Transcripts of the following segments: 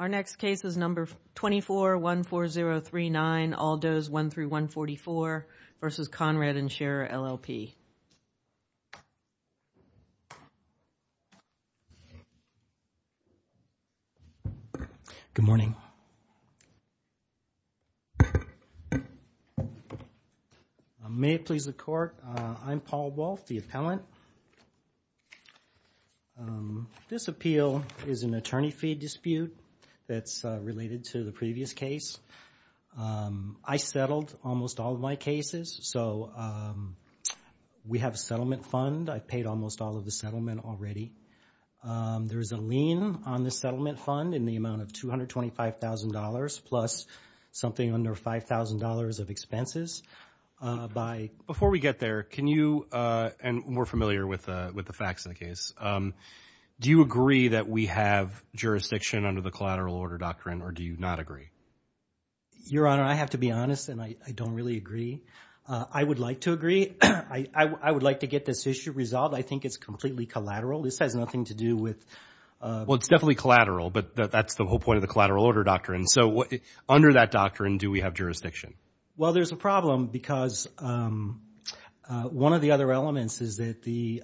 All Does 1-144 v. Conrad & Scherer, LLP Good morning. May it please the Court, I'm Paul Wolfe, the appellant. This appeal is an attorney fee dispute that's related to the previous case. I settled almost all of my cases, so we have a settlement fund. I paid almost all of the settlement already. There's a lien on the settlement fund in the amount of $225,000 plus something under $5,000 of expenses. Before we get there, can you, and we're familiar with the facts of the case, do you agree that we have jurisdiction under the collateral order doctrine or do you not agree? Your Honor, I have to be honest and I don't really agree. I would like to agree. I would like to get this issue resolved. I think it's completely collateral. This has nothing to do with… Well, it's definitely collateral, but that's the whole point of the collateral order doctrine. So under that doctrine, do we have jurisdiction? Well, there's a problem because one of the other elements is that the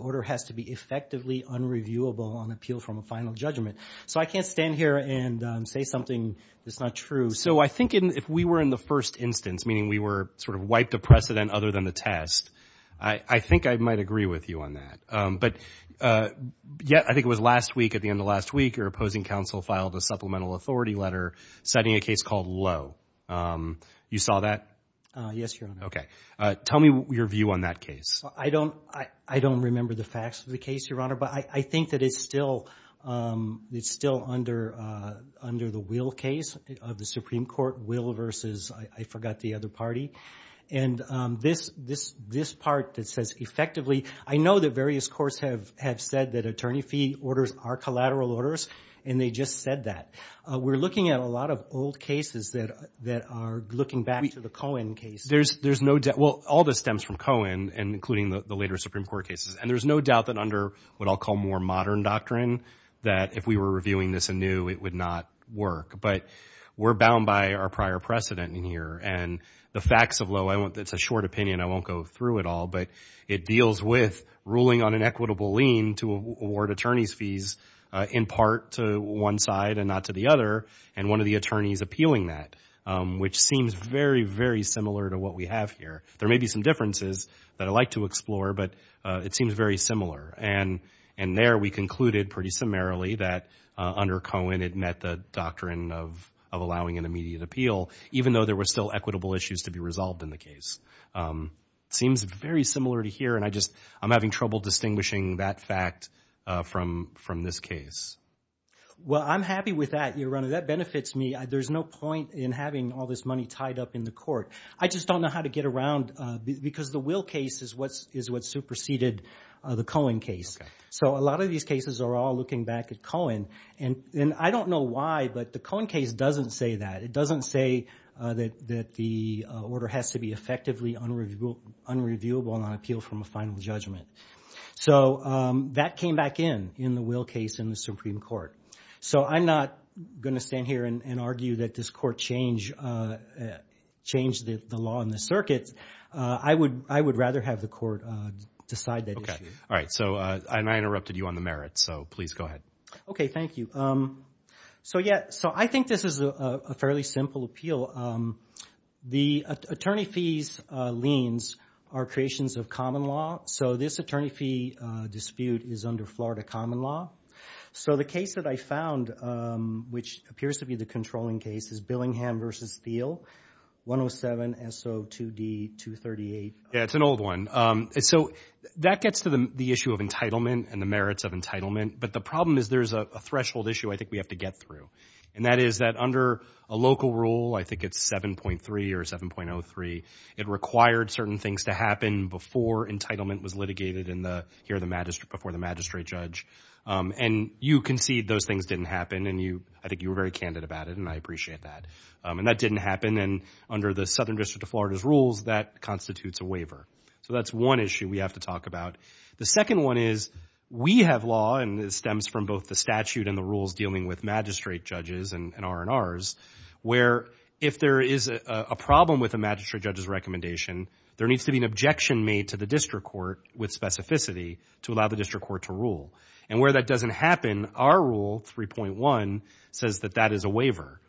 order has to be effectively unreviewable on appeal from a final judgment. So I can't stand here and say something that's not true. So I think if we were in the first instance, meaning we were sort of wiped of precedent other than the test, I think I might agree with you on that. But yet I think it was last week, at the end of last week, your opposing counsel filed a supplemental authority letter citing a case called Lowe. You saw that? Yes, Your Honor. Okay. Tell me your view on that case. I don't remember the facts of the case, Your Honor, but I think that it's still under the Will case of the Supreme Court. Will versus, I forgot the other party. And this part that says effectively, I know that various courts have said that attorney fee orders are collateral orders and they just said that. We're looking at a lot of old cases that are looking back to the Cohen case. Well, all this stems from Cohen, including the later Supreme Court cases. And there's no doubt that under what I'll call more modern doctrine, that if we were reviewing this anew, it would not work. But we're bound by our prior precedent in here. And the facts of Lowe, it's a short opinion. I won't go through it all. But it deals with ruling on an equitable lien to award attorney's fees in part to one side and not to the other, and one of the attorneys appealing that, which seems very, very similar to what we have here. There may be some differences that I'd like to explore, but it seems very similar. And there we concluded pretty summarily that under Cohen it met the doctrine of allowing an immediate appeal, even though there were still equitable issues to be resolved in the case. It seems very similar to here, and I'm having trouble distinguishing that fact from this case. Well, I'm happy with that, Your Honor. That benefits me. There's no point in having all this money tied up in the court. I just don't know how to get around, because the Will case is what superseded the Cohen case. So a lot of these cases are all looking back at Cohen. And I don't know why, but the Cohen case doesn't say that. It doesn't say that the order has to be effectively unreviewable on appeal from a final judgment. So that came back in, in the Will case in the Supreme Court. So I'm not going to stand here and argue that this court changed the law and the circuit. I would rather have the court decide that issue. Okay. All right. And I interrupted you on the merits, so please go ahead. Okay. Thank you. So I think this is a fairly simple appeal. The attorney fees liens are creations of common law. So this attorney fee dispute is under Florida common law. So the case that I found, which appears to be the controlling case, is Billingham v. Thiel, 107SO2D238. Yeah, it's an old one. So that gets to the issue of entitlement and the merits of entitlement. But the problem is there's a threshold issue I think we have to get through. And that is that under a local rule, I think it's 7.3 or 7.03, it required certain things to happen before entitlement was litigated here before the magistrate judge. And you concede those things didn't happen, and I think you were very candid about it, and I appreciate that. And that didn't happen, and under the Southern District of Florida's rules, that constitutes a waiver. So that's one issue we have to talk about. The second one is we have law, and it stems from both the statute and the rules dealing with magistrate judges and R&Rs, where if there is a problem with a magistrate judge's recommendation, there needs to be an objection made to the district court with specificity to allow the district court to rule. And where that doesn't happen, our rule, 3.1, says that that is a waiver.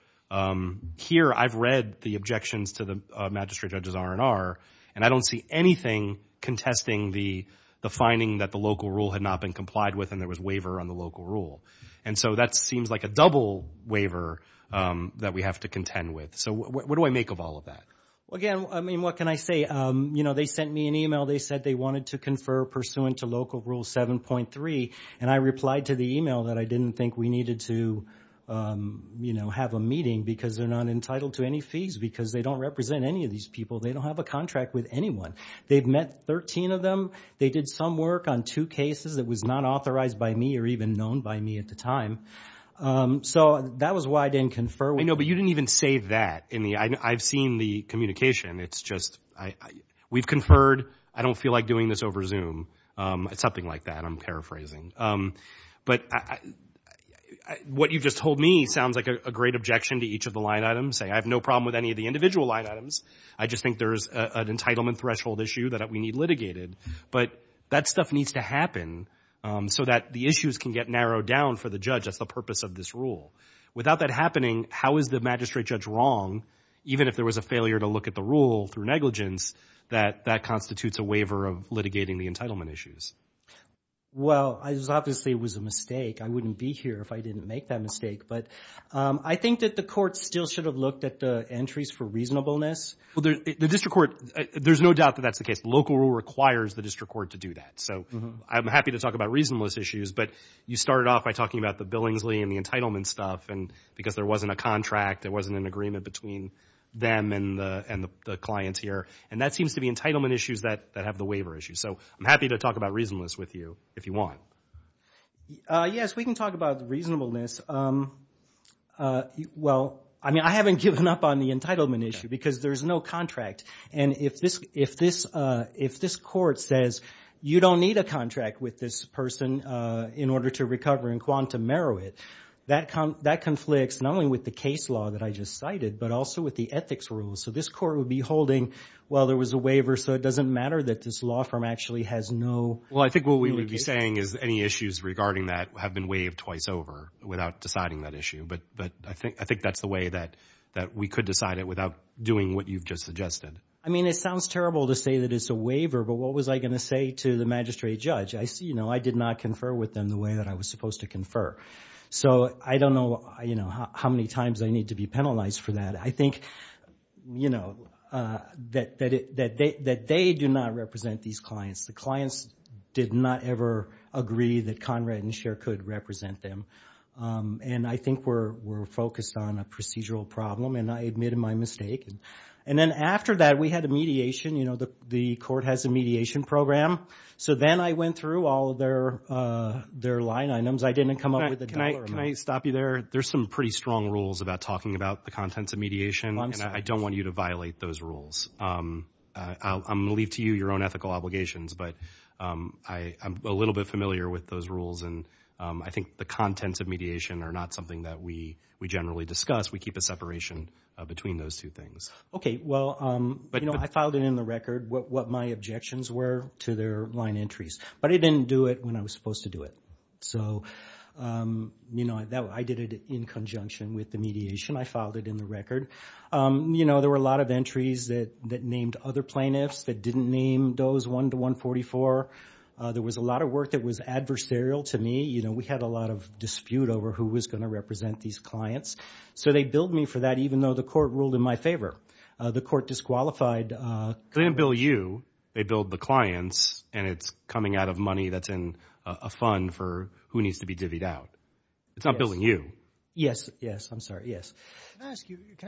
Here I've read the objections to the magistrate judge's R&R, and I don't see anything contesting the finding that the local rule had not been complied with and there was waiver on the local rule. And so that seems like a double waiver that we have to contend with. So what do I make of all of that? Well, again, I mean, what can I say? You know, they sent me an e-mail. They said they wanted to confer pursuant to local rule 7.3, and I replied to the e-mail that I didn't think we needed to, you know, have a meeting because they're not entitled to any fees because they don't represent any of these people. They don't have a contract with anyone. They've met 13 of them. They did some work on two cases that was not authorized by me or even known by me at the time. So that was why I didn't confer. I know, but you didn't even say that. I've seen the communication. It's just we've conferred. I don't feel like doing this over Zoom. It's something like that. I'm paraphrasing. But what you've just told me sounds like a great objection to each of the line items, saying I have no problem with any of the individual line items. I just think there's an entitlement threshold issue that we need litigated. But that stuff needs to happen so that the issues can get narrowed down for the judge. That's the purpose of this rule. Without that happening, how is the magistrate judge wrong, even if there was a failure to look at the rule through negligence, that that constitutes a waiver of litigating the entitlement issues? Well, obviously it was a mistake. I wouldn't be here if I didn't make that mistake. I think that the court still should have looked at the entries for reasonableness. The district court, there's no doubt that that's the case. Local rule requires the district court to do that. I'm happy to talk about reasonableness issues, but you started off by talking about the Billingsley and the entitlement stuff because there wasn't a contract. There wasn't an agreement between them and the clients here. That seems to be entitlement issues that have the waiver issues. I'm happy to talk about reasonableness with you if you want. Yes, we can talk about reasonableness. Well, I haven't given up on the entitlement issue because there's no contract. And if this court says, you don't need a contract with this person in order to recover in quantum merit, that conflicts not only with the case law that I just cited, but also with the ethics rules. So this court would be holding, well, there was a waiver, so it doesn't matter that this law firm actually has no litigation. Well, I think what we would be saying is any issues regarding that have been waived twice over without deciding that issue. But I think that's the way that we could decide it without doing what you've just suggested. I mean, it sounds terrible to say that it's a waiver, but what was I going to say to the magistrate judge? I did not confer with them the way that I was supposed to confer. So I don't know how many times I need to be penalized for that. I think that they do not represent these clients. The clients did not ever agree that Conrad and Scher could represent them. And I think we're focused on a procedural problem, and I admit my mistake. And then after that, we had a mediation. You know, the court has a mediation program. So then I went through all of their line items. I didn't come up with a dollar amount. Can I stop you there? There's some pretty strong rules about talking about the contents of mediation, and I don't want you to violate those rules. I'm going to leave to you your own ethical obligations, but I'm a little bit familiar with those rules, and I think the contents of mediation are not something that we generally discuss. We keep a separation between those two things. Okay, well, you know, I filed it in the record, what my objections were to their line entries. But I didn't do it when I was supposed to do it. So, you know, I did it in conjunction with the mediation. I filed it in the record. You know, there were a lot of entries that named other plaintiffs that didn't name those 1 to 144. There was a lot of work that was adversarial to me. You know, we had a lot of dispute over who was going to represent these clients. So they billed me for that even though the court ruled in my favor. The court disqualified. They didn't bill you. They billed the clients, and it's coming out of money that's in a fund for who needs to be divvied out. It's not billing you. Yes, yes, I'm sorry, yes. Can I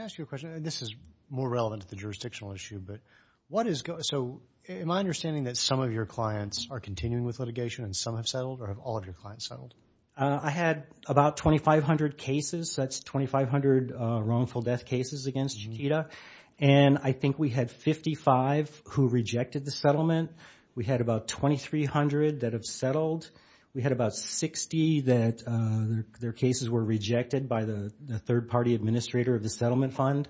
ask you a question? This is more relevant to the jurisdictional issue. But what is going on? So am I understanding that some of your clients are continuing with litigation and some have settled, or have all of your clients settled? I had about 2,500 cases. That's 2,500 wrongful death cases against Chiquita. And I think we had 55 who rejected the settlement. We had about 2,300 that have settled. We had about 60 that their cases were rejected by the third-party administrator of the settlement fund.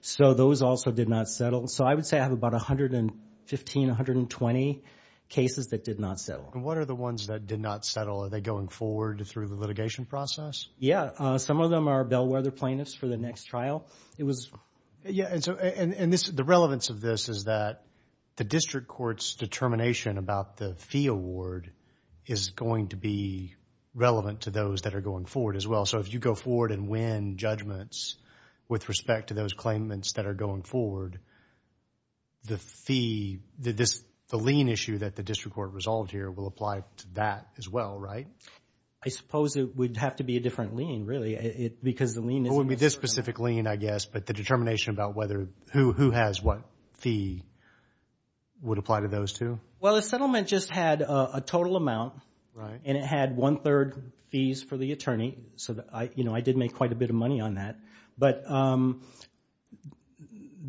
So those also did not settle. So I would say I have about 115, 120 cases that did not settle. And what are the ones that did not settle? Are they going forward through the litigation process? Yes. Some of them are bellwether plaintiffs for the next trial. And the relevance of this is that the district court's determination about the fee award is going to be relevant to those that are going forward as well. So if you go forward and win judgments with respect to those claimants that are going forward, the fee, the lien issue that the district court resolved here will apply to that as well, right? I suppose it would have to be a different lien, really, because the lien isn't the same. It wouldn't be this specific lien, I guess, but the determination about who has what fee would apply to those two? Well, the settlement just had a total amount, and it had one-third fees for the attorney. So I did make quite a bit of money on that. But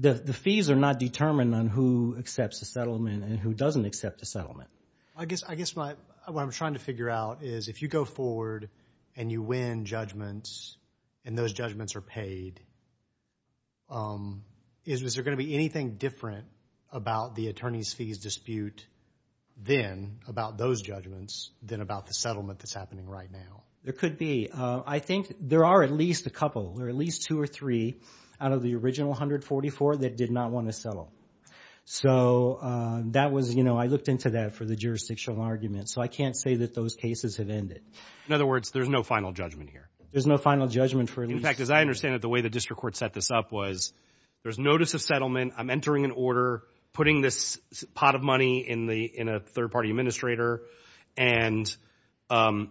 the fees are not determined on who accepts the settlement and who doesn't accept the settlement. I guess what I'm trying to figure out is if you go forward and you win judgments and those judgments are paid, is there going to be anything different about the attorneys' fees dispute then, about those judgments, than about the settlement that's happening right now? There could be. I think there are at least a couple or at least two or three out of the original 144 that did not want to settle. So that was, you know, I looked into that for the jurisdictional argument, so I can't say that those cases have ended. In other words, there's no final judgment here? There's no final judgment for at least two. In fact, as I understand it, the way the district court set this up was, there's notice of settlement, I'm entering an order, putting this pot of money in a third-party administrator, and we're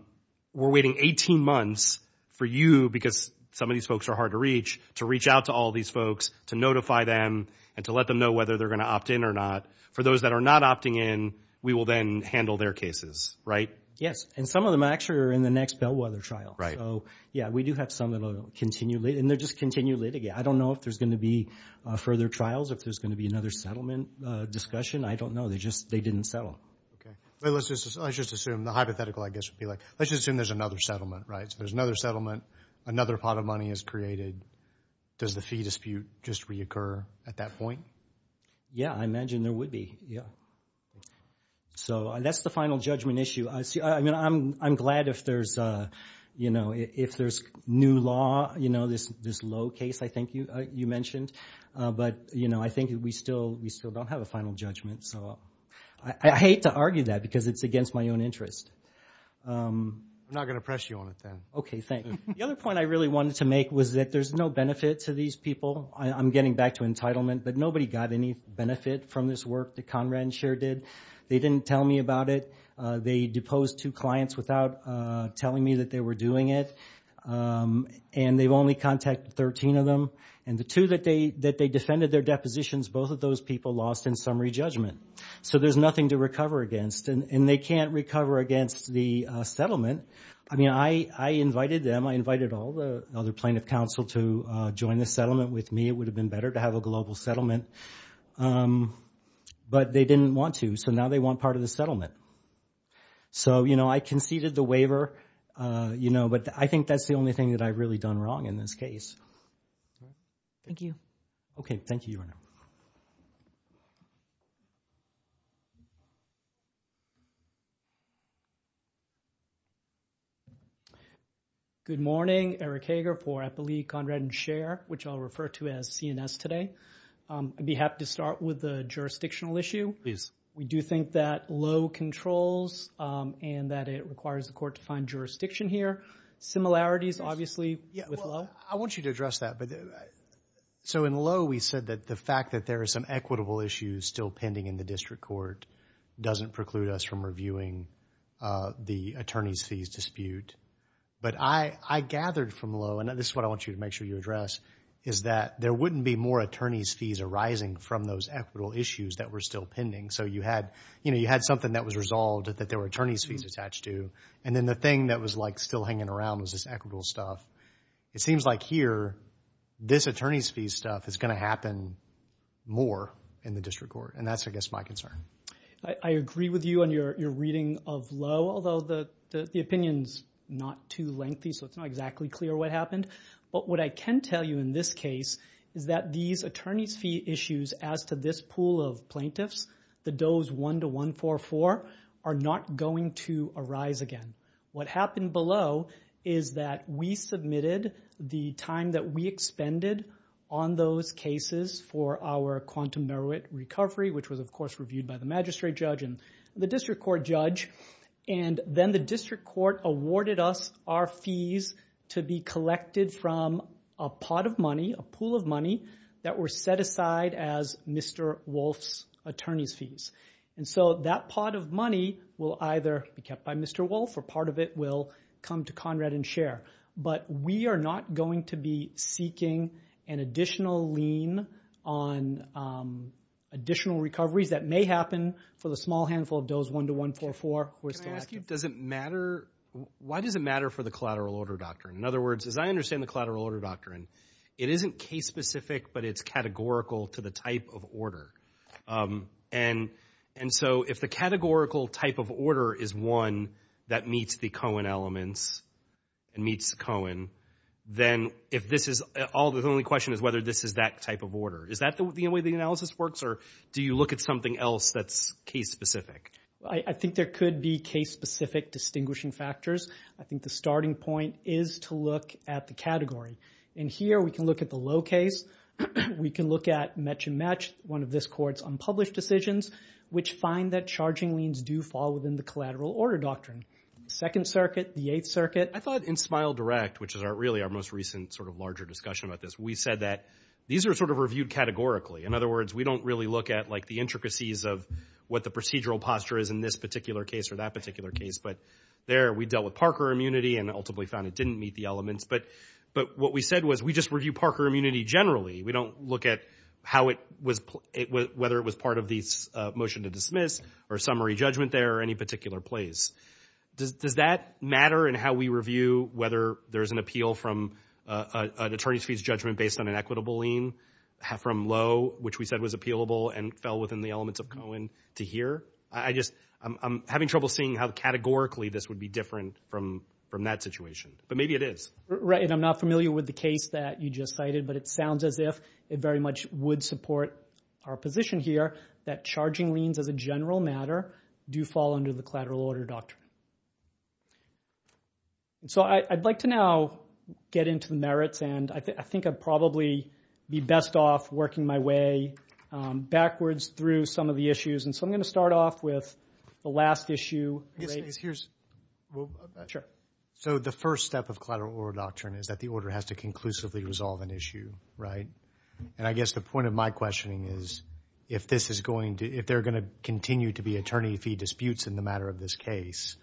waiting 18 months for you, because some of these folks are hard to reach, to reach out to all these folks, to notify them, and to let them know whether they're going to opt in or not. For those that are not opting in, we will then handle their cases, right? Yes, and some of them actually are in the next Bellwether trial. So, yeah, we do have some that are continually, and they're just continually litigation. I don't know if there's going to be further trials, if there's going to be another settlement discussion. I don't know. They just didn't settle. Let's just assume, the hypothetical, I guess, would be like, let's just assume there's another settlement, right? So there's another settlement, another pot of money is created. Does the fee dispute just reoccur at that point? Yeah, I imagine there would be, yeah. So that's the final judgment issue. I mean, I'm glad if there's, you know, if there's new law, you know, this low case I think you mentioned. But, you know, I think we still don't have a final judgment. So I hate to argue that because it's against my own interest. I'm not going to press you on it then. Okay, thanks. The other point I really wanted to make was that there's no benefit to these people. I'm getting back to entitlement, but nobody got any benefit from this work that Conrad and Cher did. They didn't tell me about it. They deposed two clients without telling me that they were doing it. And they've only contacted 13 of them. And the two that they defended their depositions, both of those people lost in summary judgment. So there's nothing to recover against. And they can't recover against the settlement. I mean, I invited them. I invited all the other plaintiff counsel to join the settlement with me. It would have been better to have a global settlement. But they didn't want to. So now they want part of the settlement. So, you know, I conceded the waiver. But I think that's the only thing that I've really done wrong in this case. Thank you. Okay, thank you, Your Honor. Good morning. Eric Hager for Eppley, Conrad, and Cher, which I'll refer to as CNS today. I'd be happy to start with the jurisdictional issue. Please. We do think that Lowe controls and that it requires the court to find jurisdiction here. Similarities, obviously, with Lowe. I want you to address that. So in Lowe we said that the fact that there are some equitable issues still pending in the district court doesn't preclude us from reviewing the attorney's fees dispute. But I gathered from Lowe, and this is what I want you to make sure you address, is that there wouldn't be more attorney's fees arising from those still pending. So you had, you know, you had something that was resolved that there were attorney's fees attached to. And then the thing that was, like, still hanging around was this equitable stuff. It seems like here this attorney's fee stuff is going to happen more in the district court. And that's, I guess, my concern. I agree with you on your reading of Lowe, although the opinion's not too lengthy, so it's not exactly clear what happened. But what I can tell you in this case is that these attorney's fee issues as to this pool of plaintiffs, the Doe's 1 to 144, are not going to arise again. What happened below is that we submitted the time that we expended on those cases for our quantum merit recovery, which was, of course, reviewed by the magistrate judge and the district court judge. And then the district court awarded us our fees to be collected from a pot of money, a pool of money, that were set aside as Mr. Wolf's attorney's fees. And so that pot of money will either be kept by Mr. Wolf or part of it will come to Conrad and share. But we are not going to be seeking an additional lien on additional recoveries that may happen for the small handful of Doe's 1 to 144 who are still active. Can I ask you, does it matter? Why does it matter for the collateral order doctrine? In other words, as I understand the collateral order doctrine, it isn't case-specific, but it's categorical to the type of order. And so if the categorical type of order is one that meets the Cohen elements and meets Cohen, then if this is all, the only question is whether this is that type of order. Is that the way the analysis works, or do you look at something else that's case-specific? I think there could be case-specific distinguishing factors. I think the starting point is to look at the category. And here we can look at the low case. We can look at match and match, one of this Court's unpublished decisions, which find that charging liens do fall within the collateral order doctrine. Second Circuit, the Eighth Circuit. I thought in Smile Direct, which is really our most recent sort of larger discussion about this, we said that these are sort of reviewed categorically. In other words, we don't really look at, like, the intricacies of what the procedural posture is in this particular case or that particular case. But there we dealt with Parker immunity and ultimately found it didn't meet the elements. But what we said was we just review Parker immunity generally. We don't look at whether it was part of the motion to dismiss or summary judgment there or any particular place. Does that matter in how we review whether there's an appeal from an attorney's fees judgment based on an equitable lien from low, which we said was appealable and fell within the elements of Cohen to here? I'm having trouble seeing how categorically this would be different from that situation. But maybe it is. Right, and I'm not familiar with the case that you just cited. But it sounds as if it very much would support our position here that charging liens as a general matter do fall under the collateral order doctrine. So I'd like to now get into the merits. And I think I'd probably be best off working my way backwards through some of the issues. And so I'm going to start off with the last issue. Sure. So the first step of collateral order doctrine is that the order has to conclusively resolve an issue. Right? And I guess the point of my questioning is if they're going to continue to be attorney fee disputes in the matter of this case,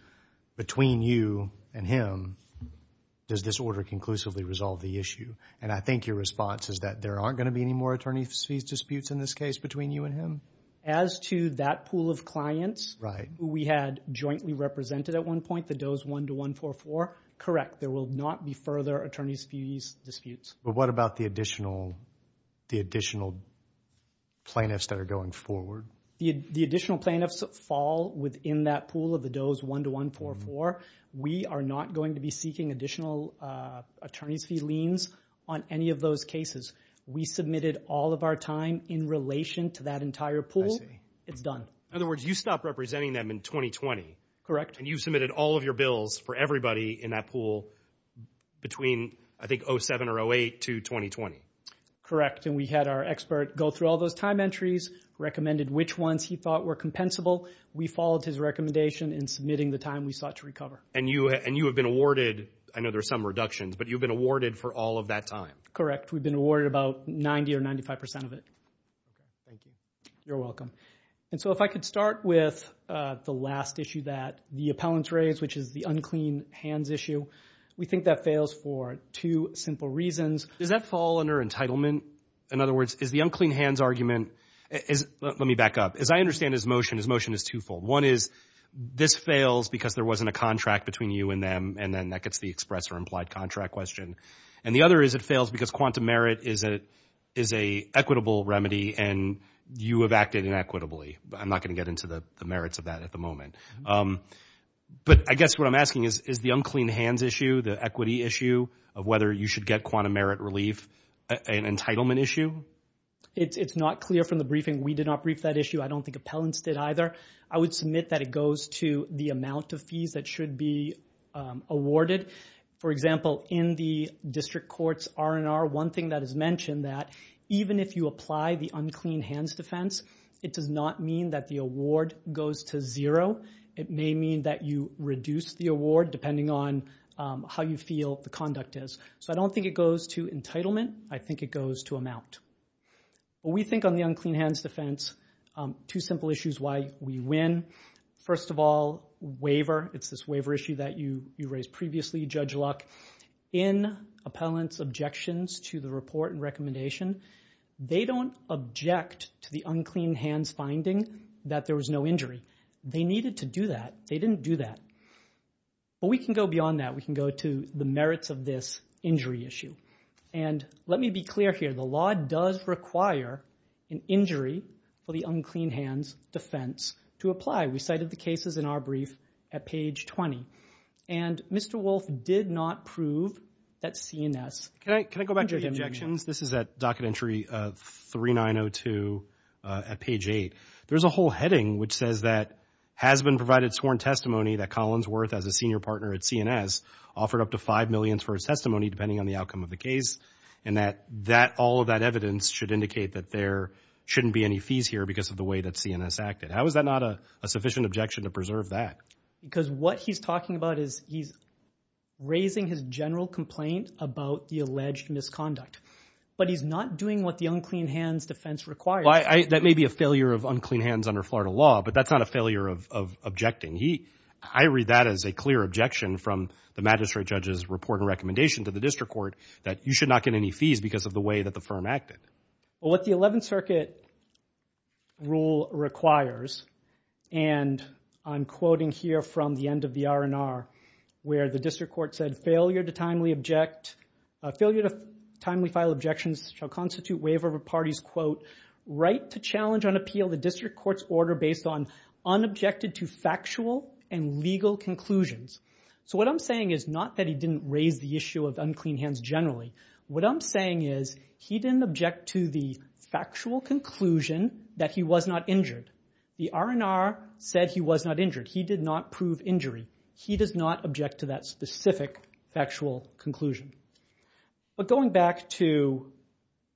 between you and him, does this order conclusively resolve the issue? And I think your response is that there aren't going to be any more attorney fees disputes in this case between you and him? As to that pool of clients, we had jointly represented at one point the DOE's 1 to 144. Correct. There will not be further attorney fees disputes. But what about the additional plaintiffs that are going forward? The additional plaintiffs fall within that pool of the DOE's 1 to 144. We are not going to be seeking additional attorney fee liens on any of those cases. We submitted all of our time in relation to that entire pool. I see. It's done. In other words, you stopped representing them in 2020. And you submitted all of your bills for everybody in that pool between, I think, 07 or 08 to 2020. Correct. And we had our expert go through all those time entries, recommended which ones he thought were compensable. We followed his recommendation in submitting the time we sought to recover. And you have been awarded, I know there are some reductions, but you've been awarded for all of that time. Correct. We've been awarded about 90% or 95% of it. Thank you. You're welcome. And so if I could start with the last issue that the appellants raised, which is the unclean hands issue. We think that fails for two simple reasons. Does that fall under entitlement? In other words, is the unclean hands argument... Let me back up. As I understand his motion, his motion is twofold. One is this fails because there wasn't a contract between you and them, and then that gets the express or implied contract question. And the other is it fails because quantum merit is an equitable remedy, and you have acted inequitably. I'm not going to get into the merits of that at the moment. But I guess what I'm asking is, is the unclean hands issue, the equity issue of whether you should get quantum merit relief an entitlement issue? It's not clear from the briefing. We did not brief that issue. I don't think appellants did either. I would submit that it goes to the amount of fees that should be awarded. For example, in the district court's R&R, one thing that is mentioned that even if you apply the unclean hands defense, it does not mean that the award goes to zero. It may mean that you reduce the award depending on how you feel the conduct is. So I don't think it goes to entitlement. I think it goes to amount. We think on the unclean hands defense, two simple issues why we win. First of all, waiver. It's this waiver issue that you raised previously, Judge Luck. In appellant's objections to the report and recommendation, they don't object to the unclean hands finding that there was no injury. They needed to do that. They didn't do that. But we can go beyond that. We can go to the merits of this injury issue. And let me be clear here. The law does require an injury for the unclean hands defense to apply. We cited the cases in our brief at page 20. And Mr. Wolfe did not prove that CNS. Can I go back to the objections? This is at docket entry 3902 at page 8. There's a whole heading which says that has been provided sworn testimony that Collinsworth, as a senior partner at CNS, offered up to $5 million for his testimony, depending on the outcome of the case, and that all of that evidence should indicate that there shouldn't be any fees here because of the way that CNS acted. How is that not a sufficient objection to preserve that? Because what he's talking about is he's raising his general complaint about the alleged misconduct. But he's not doing what the unclean hands defense requires. That may be a failure of unclean hands under Florida law, but that's not a failure of objecting. I read that as a clear objection from the magistrate judge's report and recommendation to the district court that you should not get any fees because of the way that the firm acted. What the 11th Circuit rule requires, and I'm quoting here from the end of the R&R, where the district court said failure to timely file objections shall constitute waiver of a party's, quote, right to challenge on appeal the district court's order based on unobjected to factual and legal conclusions. So what I'm saying is not that he didn't raise the issue of unclean hands generally. What I'm saying is he didn't object to the factual conclusion that he was not injured. The R&R said he was not injured. He did not prove injury. He does not object to that specific factual conclusion. But going back to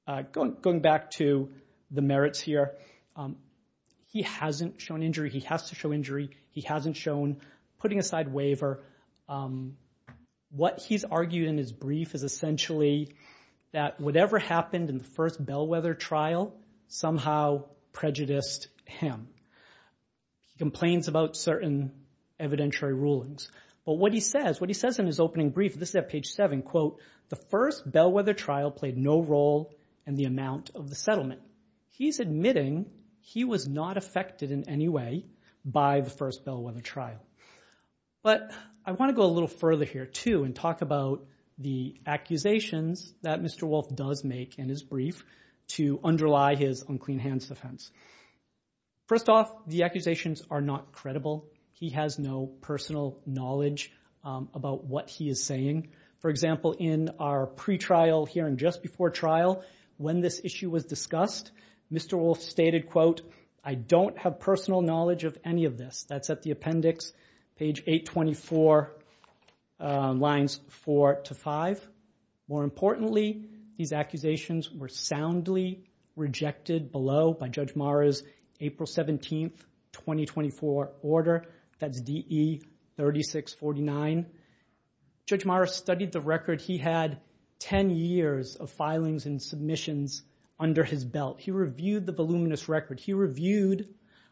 the merits here, he hasn't shown injury. He has to show injury. He hasn't shown putting aside waiver. What he's argued in his brief is essentially that whatever happened in the first Bellwether trial somehow prejudiced him. He complains about certain evidentiary rulings. But what he says, what he says in his opening brief, this is at page 7, quote, the first Bellwether trial played no role in the amount of the settlement. He's admitting he was not affected in any way by the first Bellwether trial. But I want to go a little further here too and talk about the accusations that Mr. Wolfe does make in his brief to underlie his unclean hands offense. First off, the accusations are not credible. He has no personal knowledge about what he is saying. For example, in our pretrial hearing just before trial, when this issue was discussed, Mr. Wolfe stated, quote, I don't have personal knowledge of any of this. That's at the appendix, page 824, lines 4 to 5. More importantly, these accusations were soundly rejected below by Judge Mara's April 17, 2024 order. That's DE 3649. Judge Mara studied the record. He had 10 years of filings and submissions under his belt. He reviewed the voluminous record. He reviewed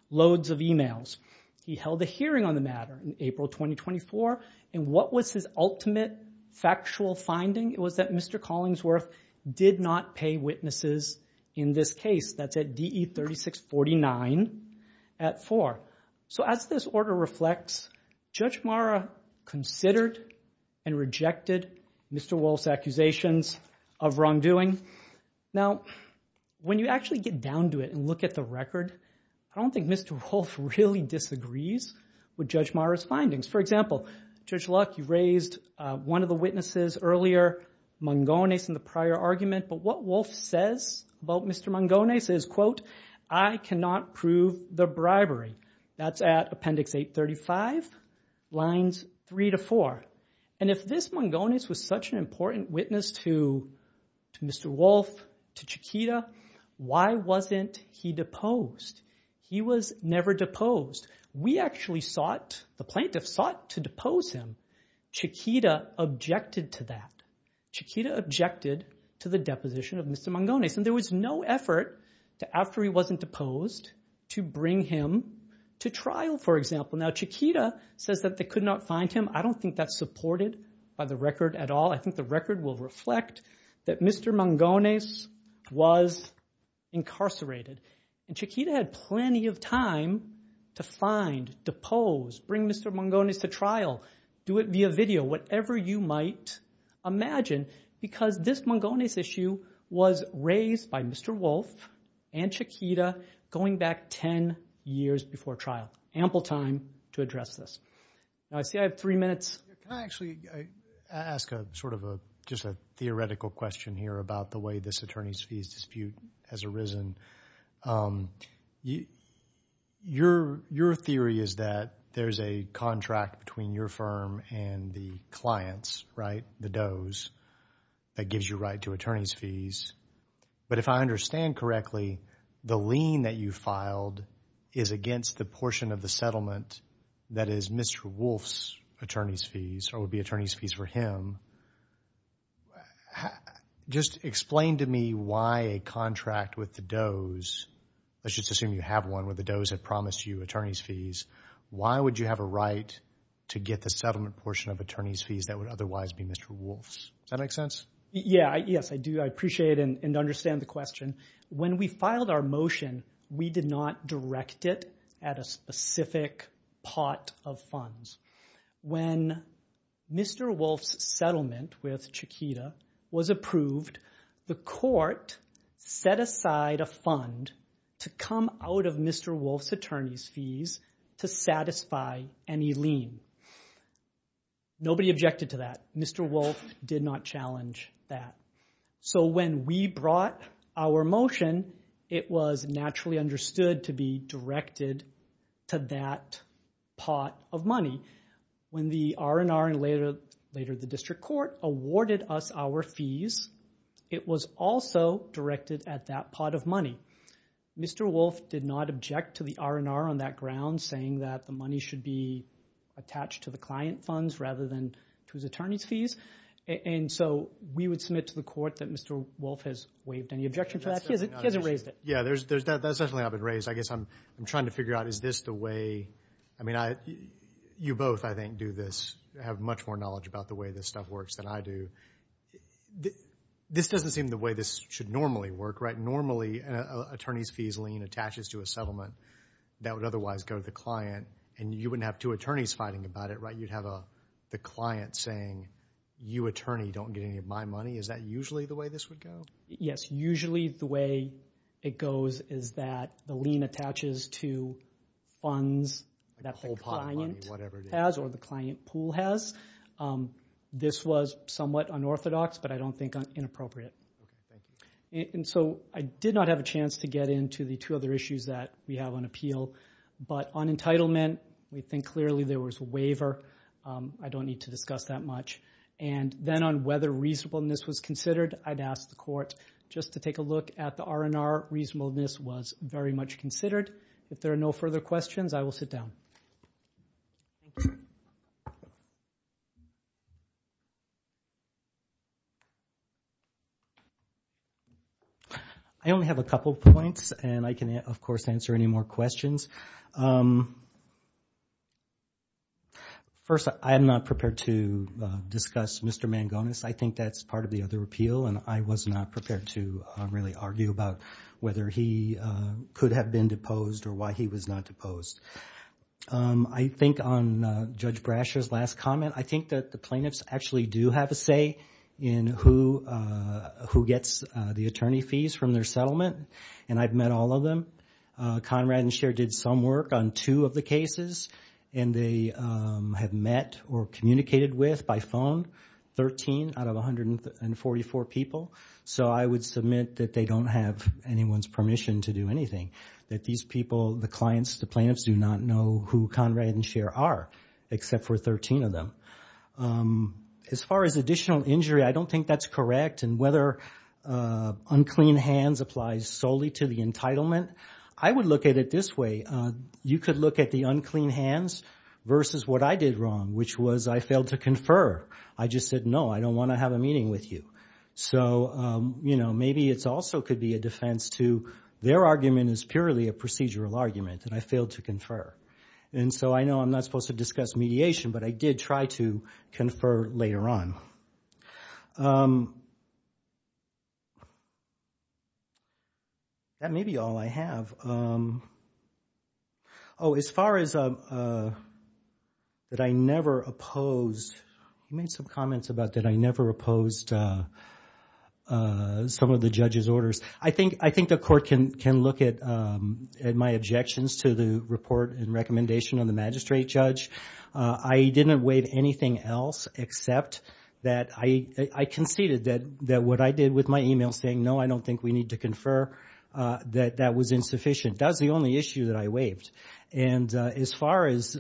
loads of emails. He held a hearing on the matter in April 2024. And what was his ultimate factual finding? It was that Mr. Collingsworth did not pay witnesses in this case. That's at DE 3649 at 4. So as this order reflects, Judge Mara considered and rejected Mr. Wolfe's accusations of wrongdoing. Now, when you actually get down to it and look at the record, I don't think Mr. Wolfe really disagrees with Judge Mara's findings. For example, Judge Luck, you raised one of the witnesses earlier, Mongones, in the prior argument. But what Wolfe says about Mr. Mongones is, quote, I cannot prove the bribery. That's at Appendix 835, lines 3 to 4. And if this Mongones was such an important witness to Mr. Wolfe, to Chiquita, why wasn't he deposed? He was never deposed. We actually sought, the plaintiffs sought to depose him. Chiquita objected to that. Chiquita objected to the deposition of Mr. Mongones. And there was no effort after he wasn't deposed to bring him to trial, for example. Now, Chiquita says that they could not find him. I don't think that's supported by the record at all. I think the record will reflect that Mr. Mongones was incarcerated. And Chiquita had plenty of time to find, depose, bring Mr. Mongones to trial, do it via video, whatever you might imagine, because this Mongones issue was raised by Mr. Wolfe and Chiquita going back ten years before trial. Ample time to address this. Now, I see I have three minutes. Can I actually ask sort of just a theoretical question here about the way this attorney's fees dispute has arisen? Your theory is that there's a contract between your firm and the client's, right, the Doe's, that gives you right to attorney's fees. But if I understand correctly, the lien that you filed is against the portion of the settlement that is Mr. Wolfe's attorney's fees or would be attorney's fees for him. Just explain to me why a contract with the Doe's, let's just assume you have one where the Doe's have promised you attorney's fees, why would you have a right to get the settlement portion of attorney's fees that would otherwise be Mr. Wolfe's? Does that make sense? Yes, I do. I appreciate and understand the question. When we filed our motion, we did not direct it at a specific pot of funds. When Mr. Wolfe's settlement with Chiquita was approved, the court set aside a fund to come out of Mr. Wolfe's attorney's fees to satisfy any lien. Nobody objected to that. Mr. Wolfe did not challenge that. So when we brought our motion, it was naturally understood to be directed to that pot of money. When the R&R and later the district court awarded us our fees, it was also directed at that pot of money. Mr. Wolfe did not object to the R&R on that ground saying that the money should be attached to the client funds rather than to his attorney's fees. So we would submit to the court that Mr. Wolfe has waived any objection to that. He hasn't raised it. Yeah, that's definitely not been raised. I guess I'm trying to figure out, is this the way? I mean, you both, I think, do this, have much more knowledge about the way this stuff works than I do. This doesn't seem the way this should normally work, right? Normally an attorney's fees lien attaches to a settlement that would otherwise go to the client, and you wouldn't have two attorneys fighting about it, right? You'd have the client saying, you attorney, don't get any of my money. Is that usually the way this would go? Yes. Usually the way it goes is that the lien attaches to funds that the client has or the client pool has. This was somewhat unorthodox, but I don't think inappropriate. And so I did not have a chance to get into the two other issues that we have on appeal, but on entitlement, we think clearly there was a waiver. I don't need to discuss that much. And then on whether reasonableness was considered, I'd ask the court just to take a look at the R&R. Reasonableness was very much considered. If there are no further questions, I will sit down. I only have a couple of points, and I can, of course, answer any more questions. First, I am not prepared to discuss Mr. Mangones. I think that's part of the other appeal, and I was not prepared to really argue about whether he could have been deposed or why he was not deposed. I think on Judge Brasher's last comment, I think that the plaintiffs actually do have a say in who gets the attorney fees from their settlement, and I've met all of them. Conrad and Cher did some work on two of the cases, and they have met or communicated with, by phone, 13 out of 144 people. So I would submit that they don't have anyone's permission to do anything, that these people, the clients, the plaintiffs, do not know who Conrad and Cher are, except for 13 of them. As far as additional injury, I don't think that's correct, and whether unclean hands applies solely to the entitlement, I would look at it this way. You could look at the unclean hands versus what I did wrong, which was I failed to confer. I just said, no, I don't want to have a meeting with you. So maybe it also could be a defense to their argument as purely a procedural argument, that I failed to confer. So I know I'm not supposed to discuss mediation, but I did try to confer later on. That may be all I have. Oh, as far as that I never opposed, you made some comments about that I never opposed some of the judge's orders. I think the court can look at my objections to the report and recommendation of the magistrate judge. I didn't waive anything else except that I conceded that what I did with my email saying, no, I don't think we need to confer, that that was insufficient. That was the only issue that I waived. And as far as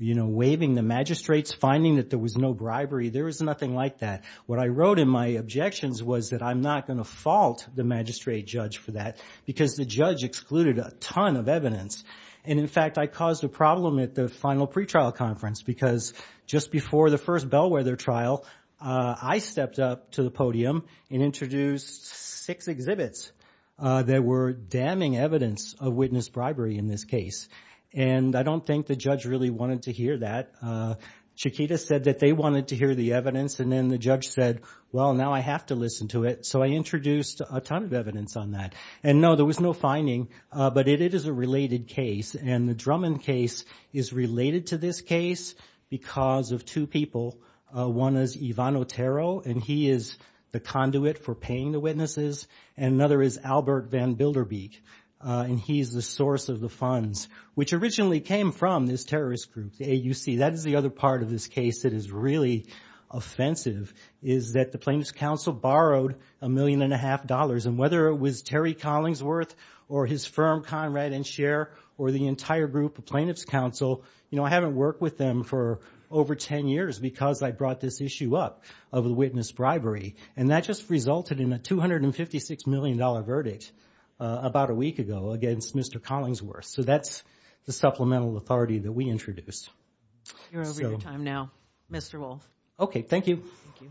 waiving the magistrates, finding that there was no bribery, there was nothing like that. What I wrote in my objections was that I'm not going to fault the magistrate judge for that, because the judge excluded a ton of evidence. And in fact, I caused a problem at the final pretrial conference, because just before the first Bellwether trial, I stepped up to the podium and introduced six exhibits that were damning evidence of witness bribery in this case. And I don't think the judge really wanted to hear that. Chiquita said that they wanted to hear the evidence, and then the judge said, well, now I have to listen to it. So I introduced a ton of evidence on that. And no, there was no finding, but it is a related case. And the Drummond case is related to this case because of two people. One is Ivan Otero, and he is the conduit for paying the witnesses. And another is Albert Van Bilderbeek, and he's the source of the funds, which originally came from this terrorist group, the AUC. That is the other part of this case that is really offensive, is that the Plaintiffs' Counsel borrowed a million and a half dollars. And whether it was Terry Collingsworth or his firm, Conrad and Share, or the entire group of Plaintiffs' Counsel, I haven't worked with them for over ten years because I brought this issue up of the witness bribery. And that just resulted in a $256 million verdict about a week ago against Mr. Collingsworth. So that's the supplemental authority that we introduced. You're over your time now, Mr. Wolf. Okay, thank you. Thank you. Thank you.